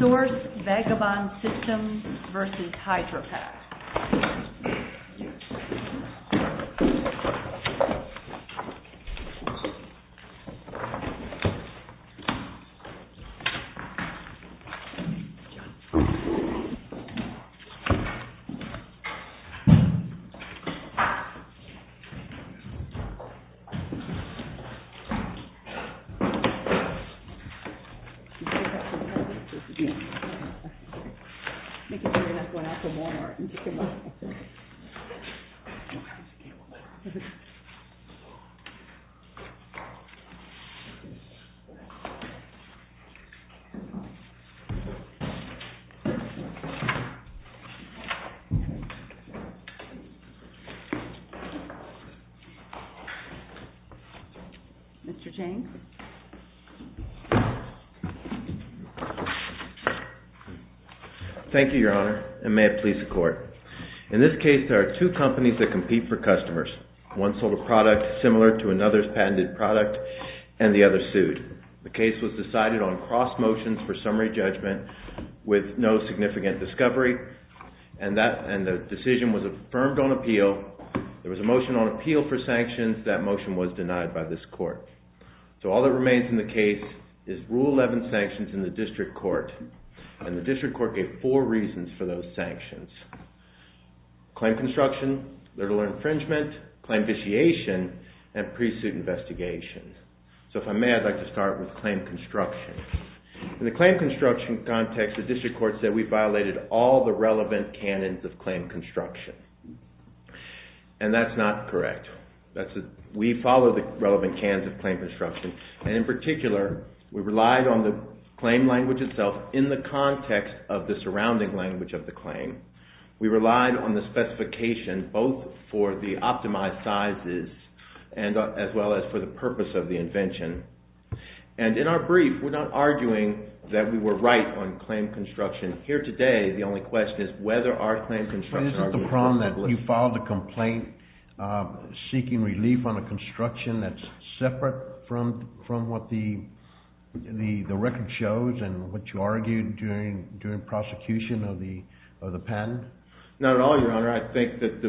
Source Vagabond Systems v. Hydrapak Source Vagabond Systems v. Hydrapak, Inc. Thank you, Your Honor, and may it please the Court. In this case, there are two companies that compete for customers. One sold a product similar to another's patented product, and the other sued. The case was decided on cross motions for summary judgment with no significant discovery, and the decision was affirmed on appeal. There was a motion on appeal for sanctions. That motion was denied by this Court. So all that remains in the case is Rule 11 sanctions in the District Court, and the District Court gave four reasons for those sanctions. Claim construction, little infringement, claim vitiation, and pre-suit investigation. So if I may, I'd like to start with claim construction. In the claim construction context, the District Court said we violated all the relevant canons of claim construction, and that's not correct. We follow the relevant canons of claim construction, and in particular, we relied on the claim language itself in the context of the surrounding language of the claim. We relied on the specification both for the optimized sizes as well as for the purpose of the invention. And in our brief, we're not arguing that we were right on claim construction. Here today, the only question is whether our claim construction argument was correct. But isn't the problem that you filed a complaint seeking relief on a construction that's separate from what the record shows and what you argued during prosecution of the patent? Not at all, Your Honor. I think that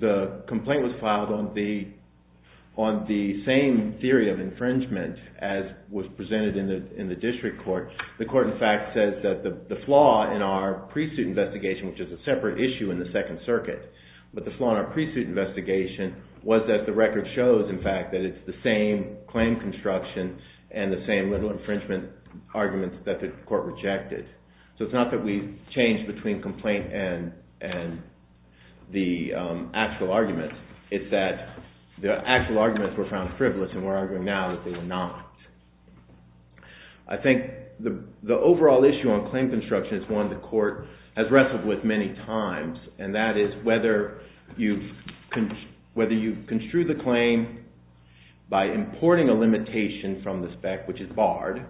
the complaint was filed on the same theory of infringement as was presented in the District Court. The court, in fact, says that the flaw in our pre-suit investigation, which is a separate issue in the Second Circuit, but the flaw in our pre-suit investigation was that the record shows, in fact, that it's the same claim construction and the same little infringement arguments that the court rejected. So it's not that we changed between complaint and the actual arguments. It's that the actual arguments were found frivolous, and we're arguing now that they were not. I think the overall issue on claim construction is one the court has wrestled with many times, and that is whether you construe the claim by importing a limitation from the spec, which is barred,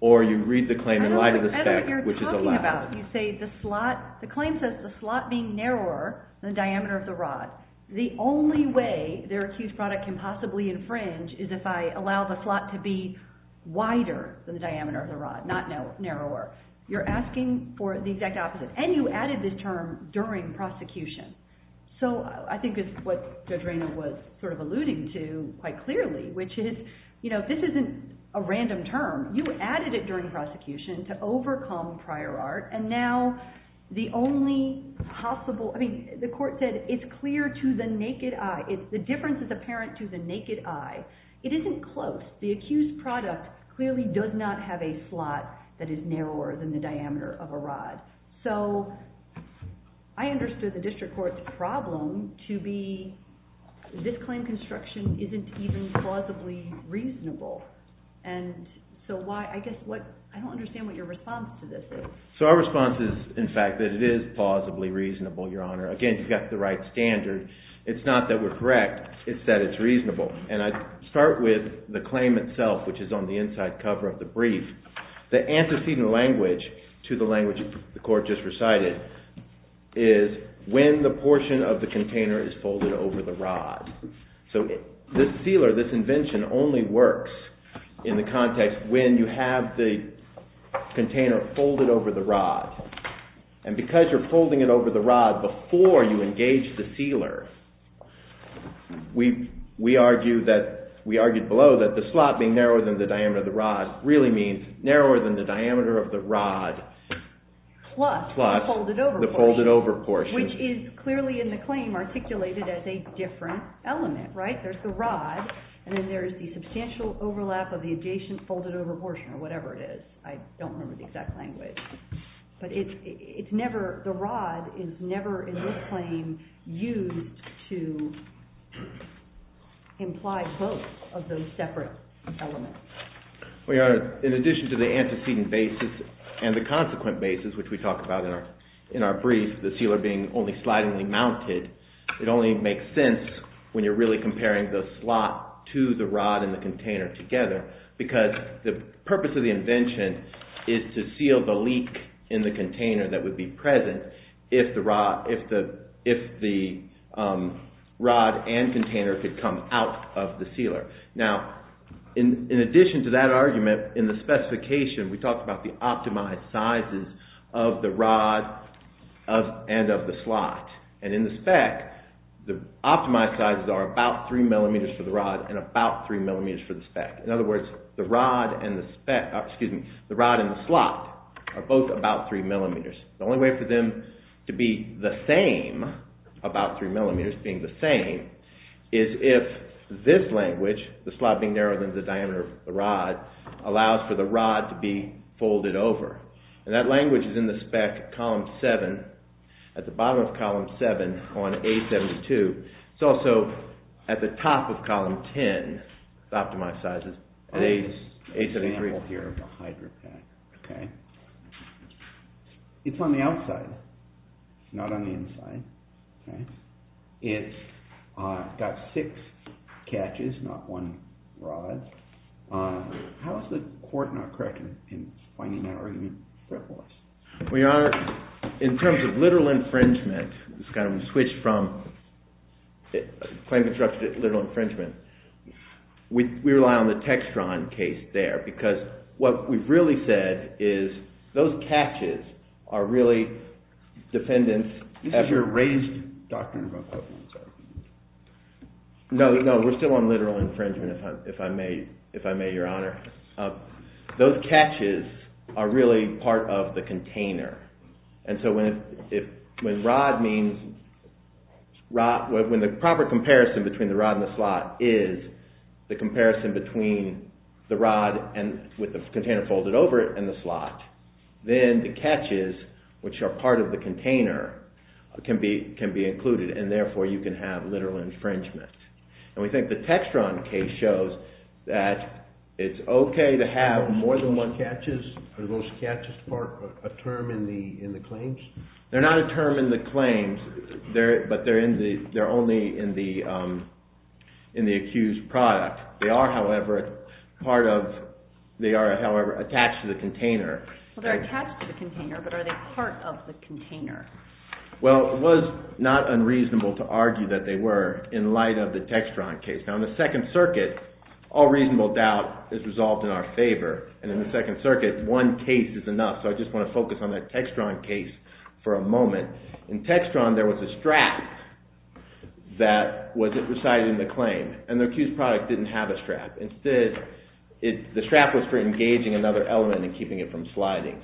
or you read the claim in light of the spec, which is allowed. I don't know what you're talking about. You say the claim says the slot being narrower than the diameter of the rod. The only way their accused product can possibly infringe is if I allow the slot to be wider than the diameter of the rod, not narrower. You're asking for the exact opposite, and you added this term during prosecution. So I think it's what Judge Raynor was alluding to quite clearly, which is this isn't a random term. You added it during prosecution to overcome prior art, and now the only possible— The difference is apparent to the naked eye. It isn't close. The accused product clearly does not have a slot that is narrower than the diameter of a rod. So I understood the district court's problem to be this claim construction isn't even plausibly reasonable. And so why—I guess what—I don't understand what your response to this is. So our response is, in fact, that it is plausibly reasonable, Your Honor. Again, you've got the right standard. It's not that we're correct. It's that it's reasonable. And I start with the claim itself, which is on the inside cover of the brief. The antecedent language to the language the court just recited is when the portion of the container is folded over the rod. So this sealer, this invention, only works in the context when you have the container folded over the rod. And because you're folding it over the rod before you engage the sealer, we argued below that the slot being narrower than the diameter of the rod really means narrower than the diameter of the rod. Plus the folded over portion, which is clearly in the claim articulated as a different element, right? There's the rod, and then there's the substantial overlap of the adjacent folded over portion, or whatever it is. I don't remember the exact language. But it's never—the rod is never, in this claim, used to imply both of those separate elements. Well, Your Honor, in addition to the antecedent basis and the consequent basis, which we talk about in our brief, the sealer being only slidingly mounted, it only makes sense when you're really comparing the slot to the rod and the container together. Because the purpose of the invention is to seal the leak in the container that would be present if the rod and container could come out of the sealer. Now, in addition to that argument, in the specification we talked about the optimized sizes of the rod and of the slot. And in the spec, the optimized sizes are about 3 millimeters for the rod and about 3 millimeters for the spec. In other words, the rod and the slot are both about 3 millimeters. The only way for them to be the same, about 3 millimeters being the same, is if this language, the slot being narrower than the diameter of the rod, allows for the rod to be folded over. And that language is in the spec column 7, at the bottom of column 7 on A-72. It's also at the top of column 10, the optimized sizes, at A-73. It's on the outside, not on the inside. It's got six catches, not one rod. How is the court not correct in finding that argument? In terms of literal infringement, we rely on the Textron case there. Because what we've really said is those catches are really dependent... You said you're a raised doctor. No, we're still on literal infringement, if I may, Your Honor. Those catches are really part of the container. And so when the proper comparison between the rod and the slot is the comparison between the rod with the container folded over it and the slot, then the catches, which are part of the container, can be included and therefore you can have literal infringement. And we think the Textron case shows that it's okay to have more than one catches. Are those catches a term in the claims? They're not a term in the claims, but they're only in the accused product. They are, however, attached to the container. Well, they're attached to the container, but are they part of the container? Well, it was not unreasonable to argue that they were in light of the Textron case. Now, in the Second Circuit, all reasonable doubt is resolved in our favor. And in the Second Circuit, one case is enough. So I just want to focus on that Textron case for a moment. In Textron, there was a strap that was residing in the claim, and the accused product didn't have a strap. Instead, the strap was for engaging another element and keeping it from sliding.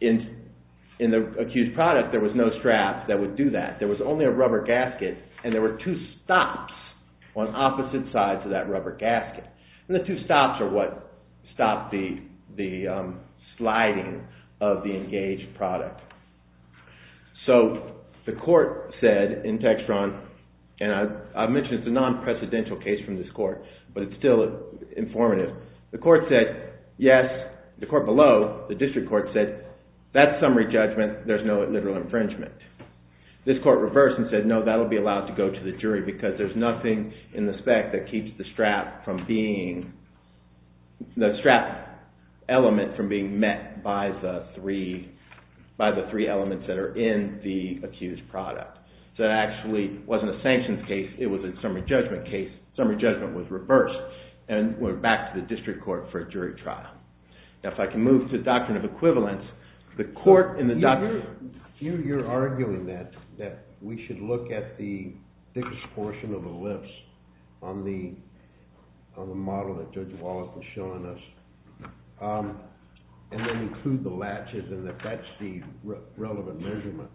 In the accused product, there was no strap that would do that. There was only a rubber gasket, and there were two stops on opposite sides of that rubber gasket. And the two stops are what stopped the sliding of the engaged product. So the court said in Textron, and I mentioned it's a non-precedential case from this court, but it's still informative. The court said yes, the court below, the district court, said that's summary judgment, there's no literal infringement. This court reversed and said no, that will be allowed to go to the jury, because there's nothing in the spec that keeps the strap element from being met by the three elements that are in the accused product. So it actually wasn't a sanctions case, it was a summary judgment case. Summary judgment was reversed and went back to the district court for a jury trial. Now if I can move to the doctrine of equivalence, the court in the doctrine… You're arguing that we should look at the biggest portion of the list on the model that Judge Wallace was showing us, and then include the latches and that that's the relevant measurement.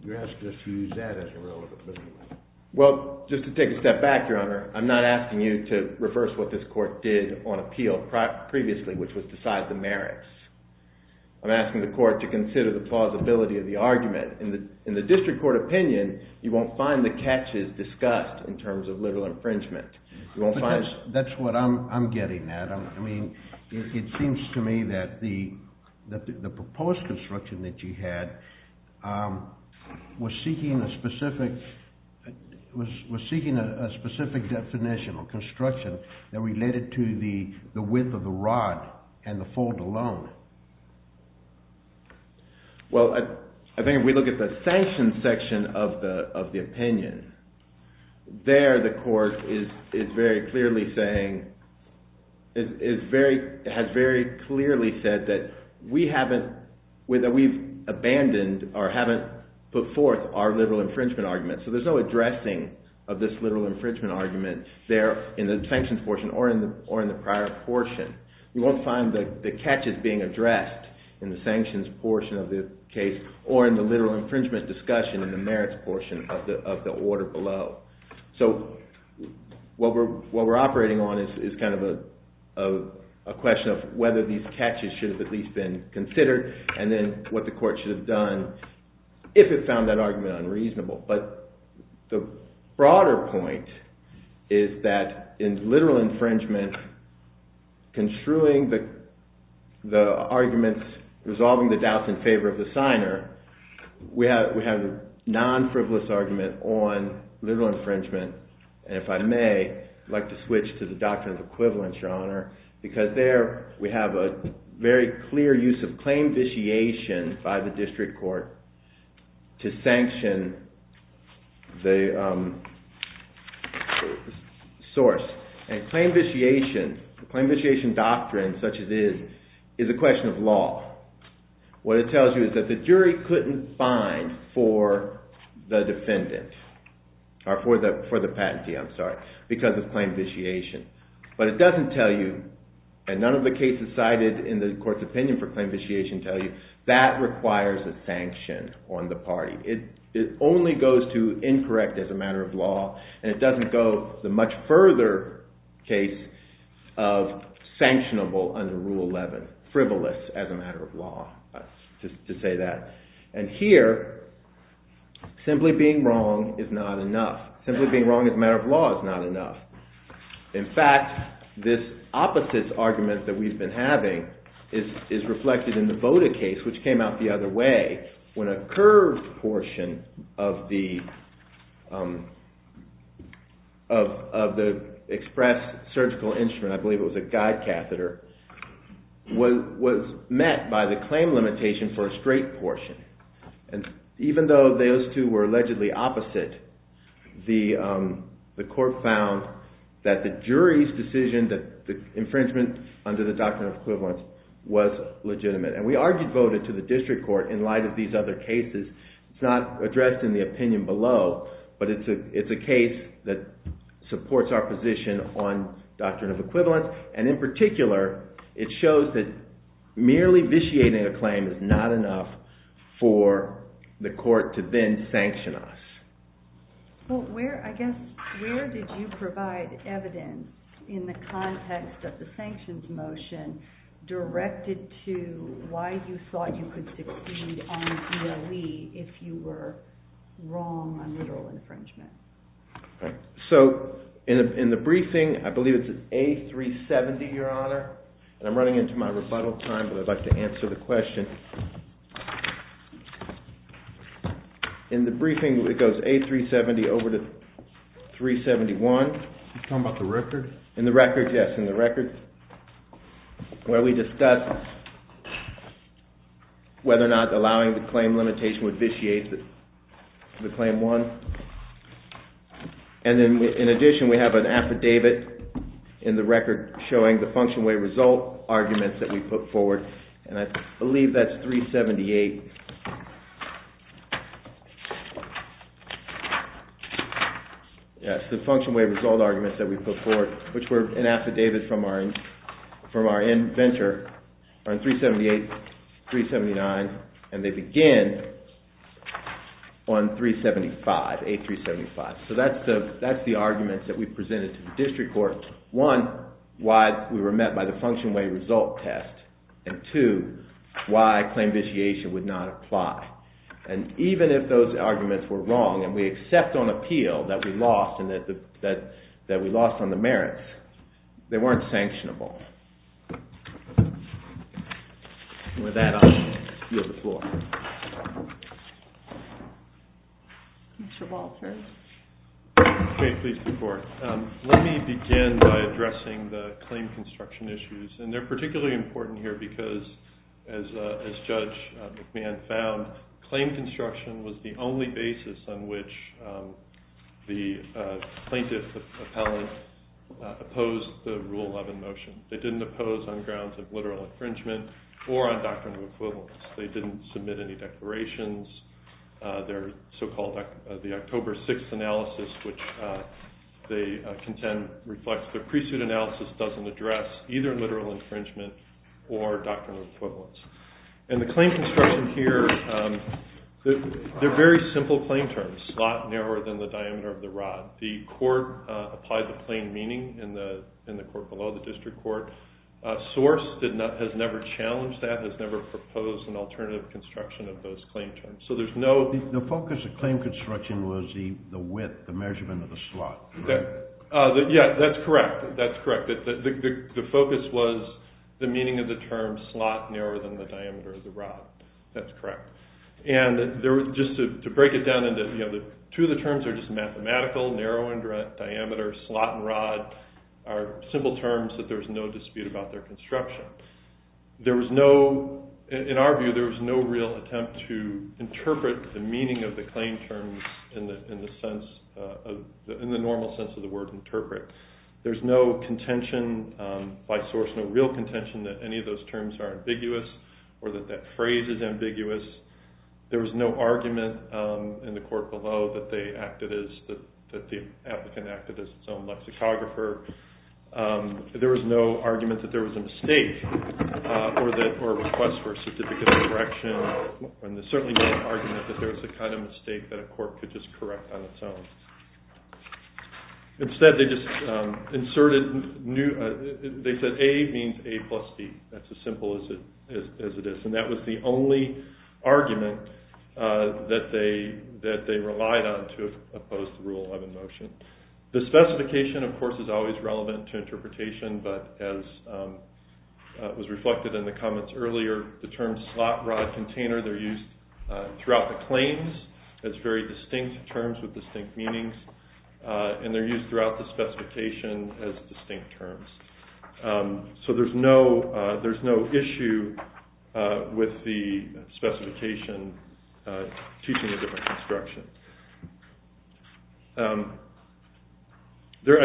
You're asking us to use that as a relevant measurement. Well, just to take a step back, Your Honor, I'm not asking you to reverse what this court did on appeal previously, which was decide the merits. I'm asking the court to consider the plausibility of the argument. In the district court opinion, you won't find the catches discussed in terms of literal infringement. That's what I'm getting at. I mean, it seems to me that the proposed construction that you had was seeking a specific definition or construction that related to the width of the rod and the fold alone. Well, I think if we look at the sanctions section of the opinion, there the court is very clearly saying… has very clearly said that we haven't… that we've abandoned or haven't put forth our literal infringement argument. So there's no addressing of this literal infringement argument there in the sanctions portion or in the prior portion. You won't find the catches being addressed in the sanctions portion of the case or in the literal infringement discussion in the merits portion of the order below. So what we're operating on is kind of a question of whether these catches should have at least been considered and then what the court should have done if it found that argument unreasonable. But the broader point is that in literal infringement, construing the arguments, resolving the doubts in favor of the signer, we have a non-frivolous argument on literal infringement. And if I may, I'd like to switch to the doctrine of equivalence, Your Honor, because there we have a very clear use of claim vitiation by the district court to sanction the source. And claim vitiation, claim vitiation doctrine such as is, is a question of law. What it tells you is that the jury couldn't find for the defendant or for the patentee, I'm sorry, because of claim vitiation. But it doesn't tell you, and none of the cases cited in the court's opinion for claim vitiation tell you, that requires a sanction on the party. It only goes to incorrect as a matter of law and it doesn't go the much further case of sanctionable under Rule 11, frivolous as a matter of law, just to say that. And here, simply being wrong is not enough. Simply being wrong as a matter of law is not enough. In fact, this opposites argument that we've been having is reflected in the Boda case, which came out the other way when a curved portion of the express surgical instrument, I believe it was a guide catheter, was met by the claim limitation for a straight portion. And even though those two were allegedly opposite, the court found that the jury's decision that the infringement under the doctrine of equivalence was legitimate. And we are devoted to the district court in light of these other cases. It's not addressed in the opinion below, but it's a case that supports our position on doctrine of equivalence. And in particular, it shows that merely vitiating a claim is not enough for the court to then sanction us. Well, where, I guess, where did you provide evidence in the context of the sanctions motion directed to why you thought you could succeed on ELE if you were wrong on literal infringement? So in the briefing, I believe it's A370, Your Honor, and I'm running into my rebuttal time, but I'd like to answer the question. In the briefing, it goes A370 over to 371. You're talking about the record? In the record, yes, in the record, where we discussed whether or not allowing the claim limitation would vitiate the claim one. And then in addition, we have an affidavit in the record showing the function way result arguments that we put forward, and I believe that's 378. Yes, the function way result arguments that we put forward, which were an affidavit from our inventor on 378, 379, and they begin on 375, A375. So that's the arguments that we presented to the district court. One, why we were met by the function way result test, and two, why claim vitiation would not apply. And even if those arguments were wrong and we accept on appeal that we lost on the merits, they weren't sanctionable. And with that, I'll yield the floor. Mr. Walters. Okay, please, before. Let me begin by addressing the claim construction issues, and they're particularly important here because, as Judge McMahon found, claim construction was the only basis on which the plaintiff appellate opposed the Rule 11 motion. They didn't oppose on grounds of literal infringement or on doctrine of equivalence. They didn't submit any declarations. Their so-called October 6th analysis, which they contend reflects their pre-suit analysis, doesn't address either literal infringement or doctrine of equivalence. And the claim construction here, they're very simple claim terms, a lot narrower than the diameter of the rod. The court applied the plain meaning in the court below, the district court. Source has never challenged that, has never proposed an alternative construction of those claim terms. So there's no— The focus of claim construction was the width, the measurement of the slot, correct? Yeah, that's correct. That's correct. The focus was the meaning of the term slot narrower than the diameter of the rod. That's correct. Just to break it down into— Two of the terms are just mathematical, narrow in diameter, slot and rod are simple terms that there's no dispute about their construction. There was no— In our view, there was no real attempt to interpret the meaning of the claim terms in the normal sense of the word interpret. There's no contention by source, no real contention that any of those terms are ambiguous or that that phrase is ambiguous. There was no argument in the court below that they acted as— that the applicant acted as its own lexicographer. There was no argument that there was a mistake or a request for a certificate of correction. There certainly was no argument that there was a kind of mistake that a court could just correct on its own. Instead, they just inserted new— as it is, and that was the only argument that they relied on to oppose the Rule 11 motion. The specification, of course, is always relevant to interpretation, but as was reflected in the comments earlier, the term slot rod container, they're used throughout the claims as very distinct terms with distinct meanings, and they're used throughout the specification as distinct terms. So there's no issue with the specification teaching a different construction. I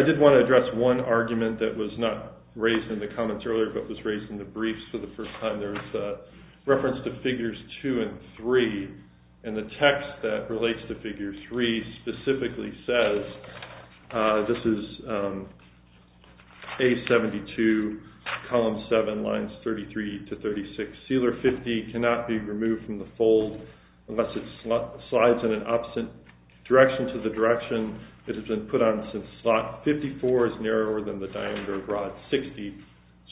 did want to address one argument that was not raised in the comments earlier, but was raised in the briefs for the first time. There's a reference to Figures 2 and 3, and the text that relates to Figure 3 specifically says, this is A72, column 7, lines 33 to 36, sealer 50 cannot be removed from the fold unless it slides in an opposite direction to the direction that it has been put on since slot 54 is narrower than the diameter of rod 60.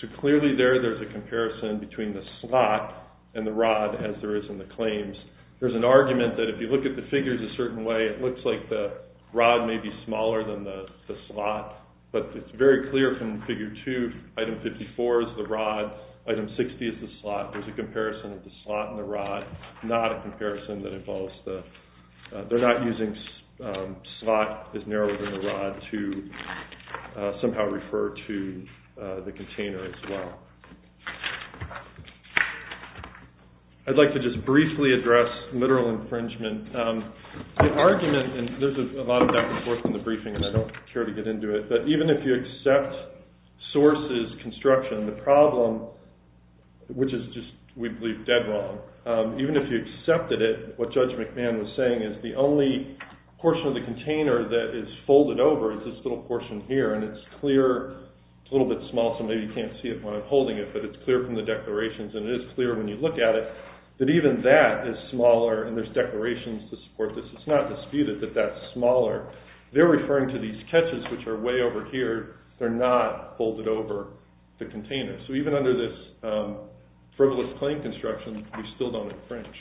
So clearly there, there's a comparison between the slot and the rod as there is in the claims. There's an argument that if you look at the figures a certain way, it looks like the rod may be smaller than the slot, but it's very clear from Figure 2, item 54 is the rod, item 60 is the slot. There's a comparison of the slot and the rod, not a comparison that involves the, they're not using slot is narrower than the rod to somehow refer to the container as well. I'd like to just briefly address literal infringement. The argument, and there's a lot of back and forth in the briefing, and I don't care to get into it, but even if you accept sources construction, the problem, which is just we believe dead wrong, even if you accepted it, what Judge McMahon was saying is the only portion of the container that is folded over is this little portion here, and it's clear, it's a little bit small, so maybe you can't see it when I'm holding it, but it's clear from the declarations, and it is clear when you look at it that even that is smaller, and there's declarations to support this. It's not disputed that that's smaller. They're referring to these catches, which are way over here. They're not folded over the container. So even under this frivolous claim construction, we still don't infringe.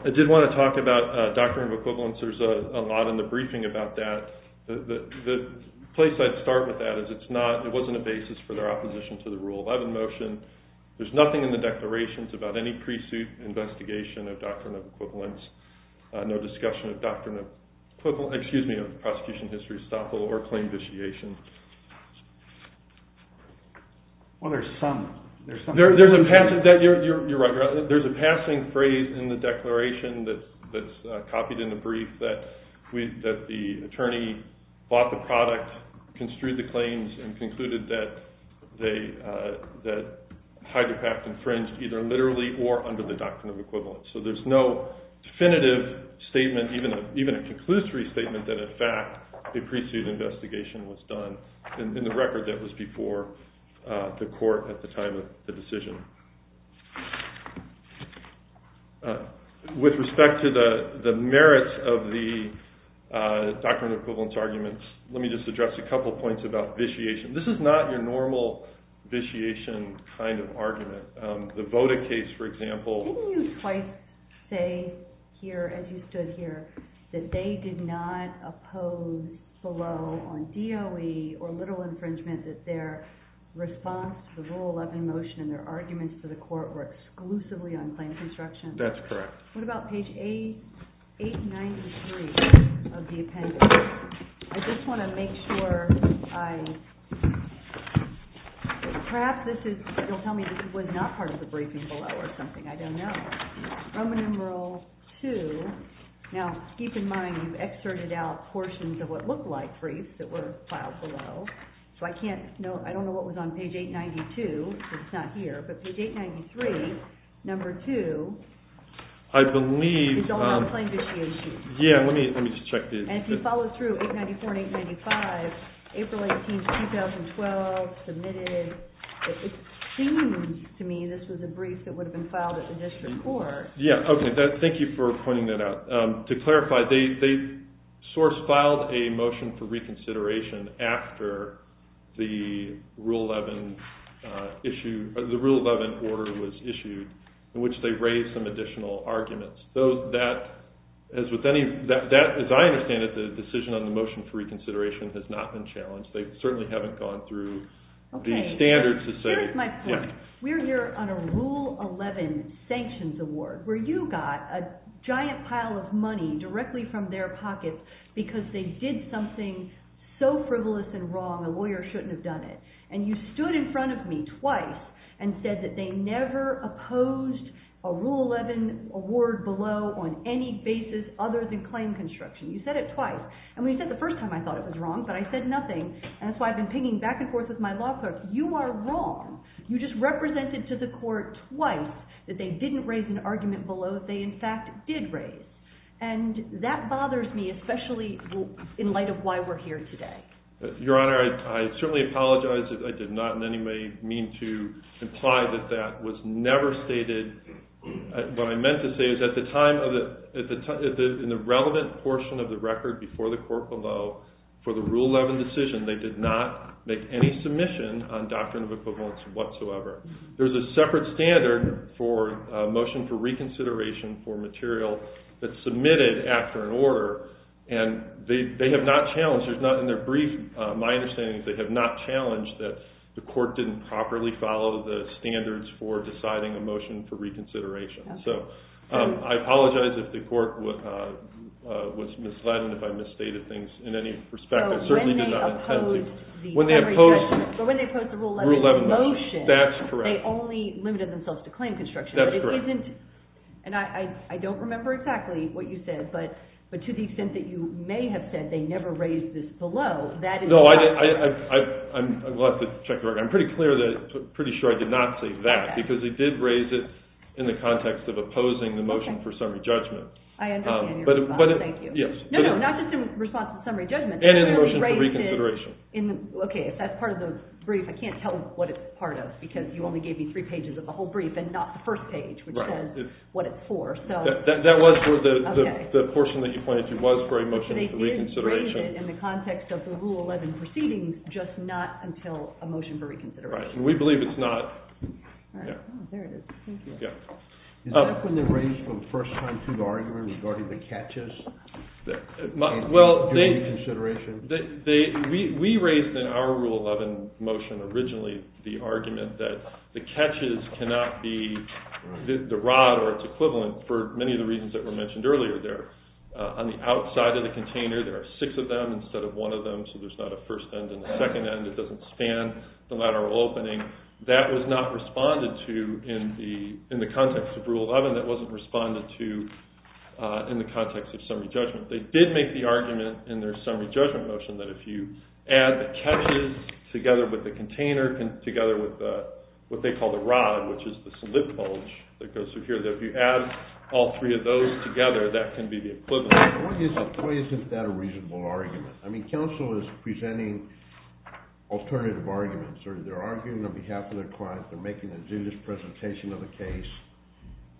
I did want to talk about doctrine of equivalence. There's a lot in the briefing about that. The place I'd start with that is it's not, it wasn't a basis for their opposition to the Rule 11 motion. There's nothing in the declarations about any pre-suit investigation of doctrine of equivalence, no discussion of doctrine of equivalent, excuse me, of prosecution history estoppel or claim vitiation. Well, there's some. There's a passing, you're right, there's a passing phrase in the declaration that's copied in the brief that the attorney bought the product, construed the claims, and concluded that Hyder Pak infringed either literally or under the doctrine of equivalence. So there's no definitive statement, even a conclusory statement, that in fact a pre-suit investigation was done in the record that was before the court at the time of the decision. With respect to the merits of the doctrine of equivalence arguments, let me just address a couple of points about vitiation. This is not your normal vitiation kind of argument. The Voda case, for example. Didn't you twice say here, as you stood here, that they did not oppose below on DOE or literal infringement that their response to the rule of motion and their arguments to the court were exclusively on claim construction? That's correct. What about page 893 of the appendix? I just want to make sure I, perhaps this is, you'll tell me this was not part of the briefing below or something. I don't know. Roman numeral 2. Now, keep in mind you've excerpted out portions of what looked like briefs that were filed below, so I don't know what was on page 892, but it's not here. But page 893, number 2, is all on claim vitiation. Yeah, let me just check this. And if you follow through, 894 and 895, April 18, 2012, submitted, it seems to me this was a brief that would have been filed at the district court. Yeah, okay. Thank you for pointing that out. To clarify, they sort of filed a motion for reconsideration after the Rule 11 issue, the Rule 11 order was issued in which they raised some additional arguments. So that, as with any, as I understand it, the decision on the motion for reconsideration has not been challenged. They certainly haven't gone through the standards to say. Okay, here's my point. We're here on a Rule 11 sanctions award where you got a giant pile of money directly from their pockets because they did something so frivolous and wrong a lawyer shouldn't have done it. And you stood in front of me twice and said that they never opposed a Rule 11 award below on any basis other than claim construction. You said it twice. I mean, you said it the first time I thought it was wrong, but I said nothing, and that's why I've been pinging back and forth with my law clerks. You are wrong. You just represented to the court twice that they didn't raise an argument below that they, in fact, did raise. And that bothers me, especially in light of why we're here today. Your Honor, I certainly apologize. I did not in any way mean to imply that that was never stated. What I meant to say is at the time in the relevant portion of the record before the court below for the Rule 11 decision, they did not make any submission on doctrine of equivalence whatsoever. There's a separate standard for a motion for reconsideration for material that's submitted after an order, and they have not challenged it. In their brief, my understanding is they have not challenged that the court didn't properly follow the standards for deciding a motion for reconsideration. So I apologize if the court was misled and if I misstated things in any respect. When they opposed the Rule 11 motion, they only limited themselves to claim construction. That's correct. And I don't remember exactly what you said, but to the extent that you may have said they never raised this below, that is not correct. I'm glad to check the record. I'm pretty sure I did not say that because they did raise it in the context of opposing the motion for summary judgment. I understand your response. Thank you. No, no, not just in response to summary judgment. And in the motion for reconsideration. Okay, if that's part of the brief, I can't tell what it's part of because you only gave me three pages of the whole brief and not the first page, which says what it's for. That was the portion that you pointed to was for a motion for reconsideration. They did raise it in the context of the Rule 11 proceedings, just not until a motion for reconsideration. Right, and we believe it's not. There it is. Thank you. Is that when they raised the first time through the argument regarding the catches? Well, we raised in our Rule 11 motion originally the argument that the catches cannot be the rod or its equivalent for many of the reasons that were mentioned earlier there. On the outside of the container, there are six of them instead of one of them, so there's not a first end and a second end. It doesn't span the lateral opening. That was not responded to in the context of Rule 11. That wasn't responded to in the context of summary judgment. They did make the argument in their summary judgment motion that if you add the catches together with the container, together with what they call the rod, which is this lip bulge that goes through here, that if you add all three of those together, that can be the equivalent. Why isn't that a reasonable argument? I mean, counsel is presenting alternative arguments. They're arguing on behalf of their clients. They're making a judicious presentation of a case,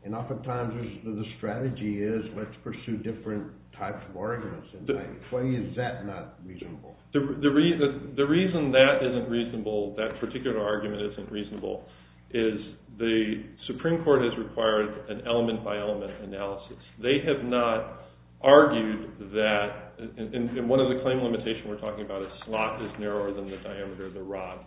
and oftentimes the strategy is let's pursue different types of arguments. Why is that not reasonable? The reason that isn't reasonable, that particular argument isn't reasonable, is the Supreme Court has required an element-by-element analysis. They have not argued that – and one of the claim limitations we're talking about is slot is narrower than the diameter of the rod.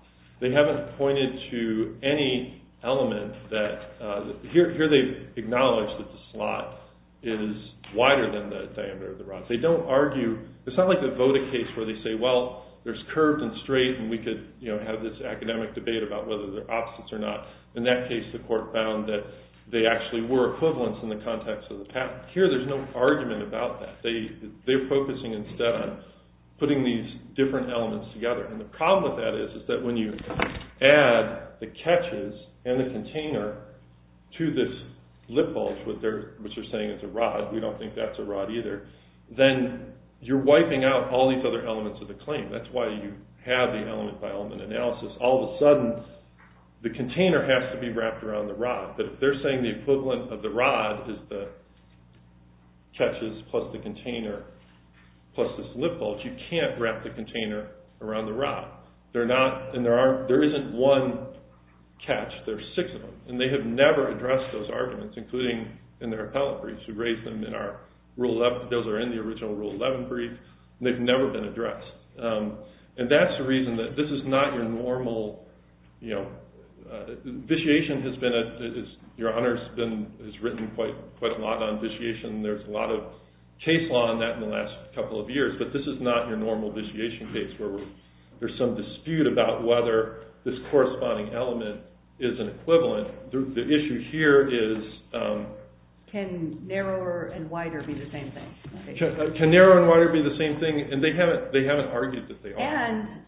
They haven't pointed to any element that – here they acknowledge that the slot is wider than the diameter of the rod. They don't argue – it's not like the Voda case where they say, well, there's curved and straight, and we could have this academic debate about whether they're opposites or not. In that case, the court found that they actually were equivalents in the context of the patent. Here there's no argument about that. They're focusing instead on putting these different elements together. And the problem with that is that when you add the catches and the container to this lip bulge, which they're saying is a rod. We don't think that's a rod either. Then you're wiping out all these other elements of the claim. That's why you have the element-by-element analysis. All of a sudden, the container has to be wrapped around the rod. But if they're saying the equivalent of the rod is the catches plus the container plus this lip bulge, you can't wrap the container around the rod. They're not – and there aren't – there isn't one catch. There are six of them. And they have never addressed those arguments, including in their appellate briefs. We raised them in our Rule 11 – those are in the original Rule 11 brief. They've never been addressed. And that's the reason that this is not your normal – you know, vitiation has been – your Honor has written quite a lot on vitiation. There's a lot of case law on that in the last couple of years. But this is not your normal vitiation case where there's some dispute about whether this corresponding element is an equivalent. The issue here is – Can narrower and wider be the same thing? Can narrower and wider be the same thing? And they haven't argued that they are. And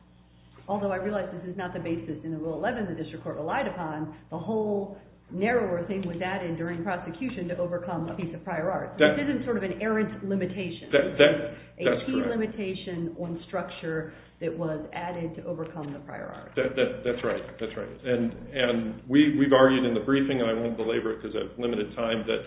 although I realize this is not the basis in the Rule 11 the district court relied upon, the whole narrower thing was added during prosecution to overcome a piece of prior art. This isn't sort of an errant limitation. That's correct. A key limitation on structure that was added to overcome the prior art. That's right. That's right. And we've argued in the briefing, and I won't belabor it because I have limited time, that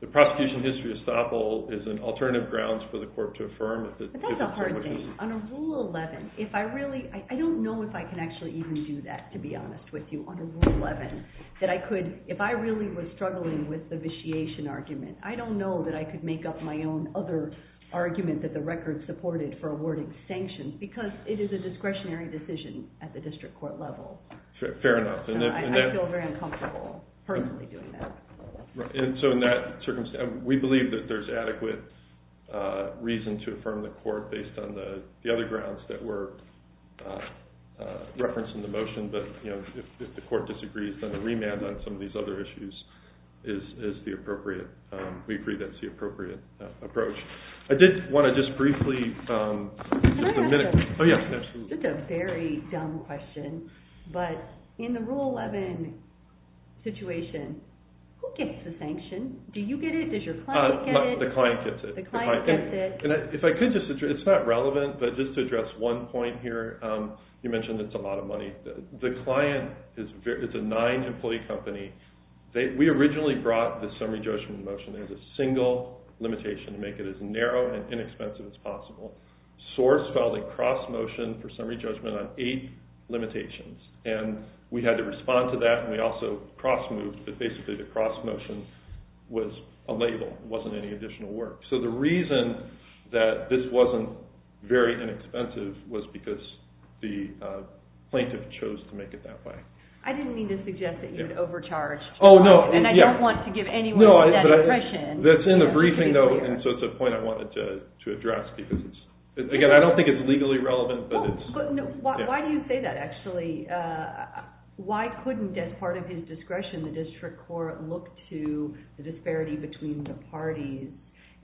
the prosecution history estoppel is an alternative grounds for the court to affirm. But that's a hard thing. On a Rule 11, if I really – I don't know if I can actually even do that, to be honest with you. On a Rule 11, that I could – if I really was struggling with the vitiation argument, I don't know that I could make up my own other argument that the record supported for awarding sanctions. Because it is a discretionary decision at the district court level. Fair enough. And I feel very uncomfortable personally doing that. And so in that circumstance, we believe that there's adequate reason to affirm the court based on the other grounds that were referenced in the motion. But if the court disagrees, then the remand on some of these other issues is the appropriate – we agree that's the appropriate approach. I did want to just briefly – Can I ask a – Oh, yes, absolutely. Just a very dumb question. But in the Rule 11 situation, who gets the sanction? Do you get it? Does your client get it? The client gets it. The client gets it. And if I could just – it's not relevant, but just to address one point here. You mentioned it's a lot of money. The client is a nine-employee company. We originally brought the summary judgment motion as a single limitation to make it as narrow and inexpensive as possible. Source filed a cross-motion for summary judgment on eight limitations. And we had to respond to that, and we also cross-moved. But basically the cross-motion was a label. It wasn't any additional work. So the reason that this wasn't very inexpensive was because the plaintiff chose to make it that way. I didn't mean to suggest that you had overcharged. Oh, no. And I don't want to give anyone that impression. That's in the briefing, though, and so it's a point I wanted to address. Again, I don't think it's legally relevant, but it's – Why do you say that, actually? Why couldn't, as part of his discretion, the district court look to the disparity between the parties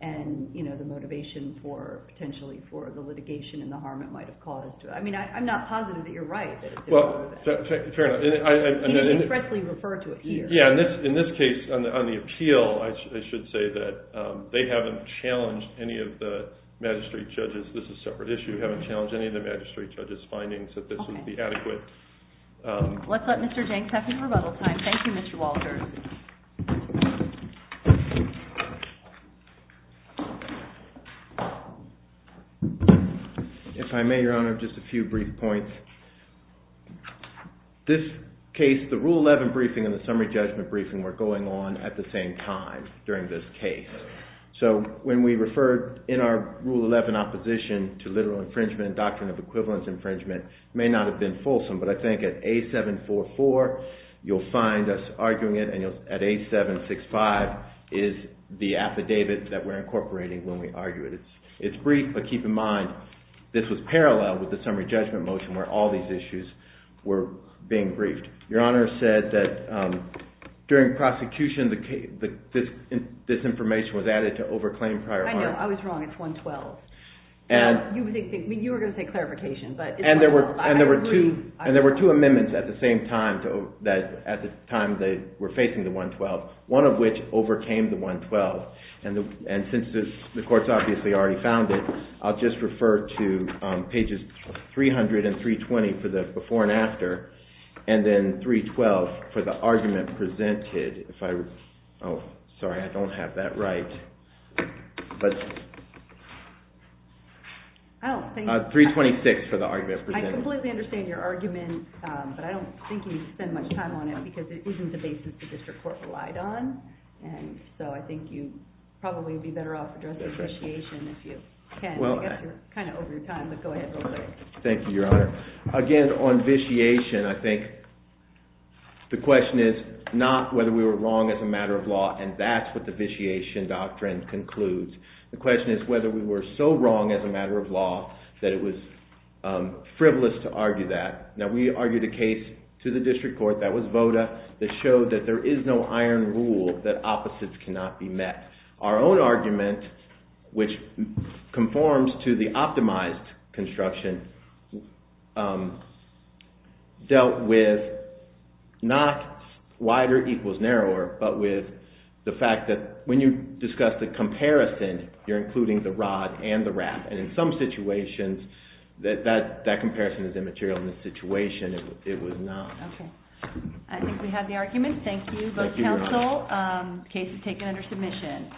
and the motivation potentially for the litigation and the harm it might have caused? I mean, I'm not positive that you're right. Well, fair enough. Can you expressly refer to it here? Yeah. In this case, on the appeal, I should say that they haven't challenged any of the magistrate judges. This is a separate issue. They haven't challenged any of the magistrate judges' findings that this would be adequate. Let's let Mr. Jenks have his rebuttal time. Thank you, Mr. Walter. If I may, Your Honor, just a few brief points. This case, the Rule 11 briefing and the summary judgment briefing were going on at the same time during this case. So when we referred in our Rule 11 opposition to literal infringement and doctrine of equivalence infringement, it may not have been fulsome, but I think at A744, you'll find us arguing it in the same way. And at A765 is the affidavit that we're incorporating when we argue it. It's brief, but keep in mind, this was parallel with the summary judgment motion where all these issues were being briefed. Your Honor said that during prosecution, this information was added to overclaim prior harm. I know. I was wrong. It's 112. You were going to say clarification, but it's 112. And there were two amendments at the same time, at the time they were facing the 112, one of which overcame the 112. And since the court's obviously already found it, I'll just refer to pages 300 and 320 for the before and after, and then 312 for the argument presented. Oh, sorry, I don't have that right. Oh, thank you. 326 for the argument presented. I completely understand your argument, but I don't think you need to spend much time on it because it isn't the basis the district court relied on, and so I think you probably would be better off addressing vitiation if you can. I guess you're kind of over your time, but go ahead real quick. Thank you, Your Honor. Again, on vitiation, I think the question is not whether we were wrong as a matter of law, and that's what the vitiation doctrine concludes. The question is whether we were so wrong as a matter of law that it was frivolous to argue that. Now, we argued a case to the district court that was VOTA that showed that there is no iron rule that opposites cannot be met. Our own argument, which conforms to the optimized construction, dealt with not wider equals narrower, but with the fact that when you discuss the comparison, you're including the rod and the wrap, and in some situations, that comparison is immaterial. In this situation, it was not. Okay. I think we have the argument. Thank you, both counsel. Thank you, Your Honor. The case is taken under submission.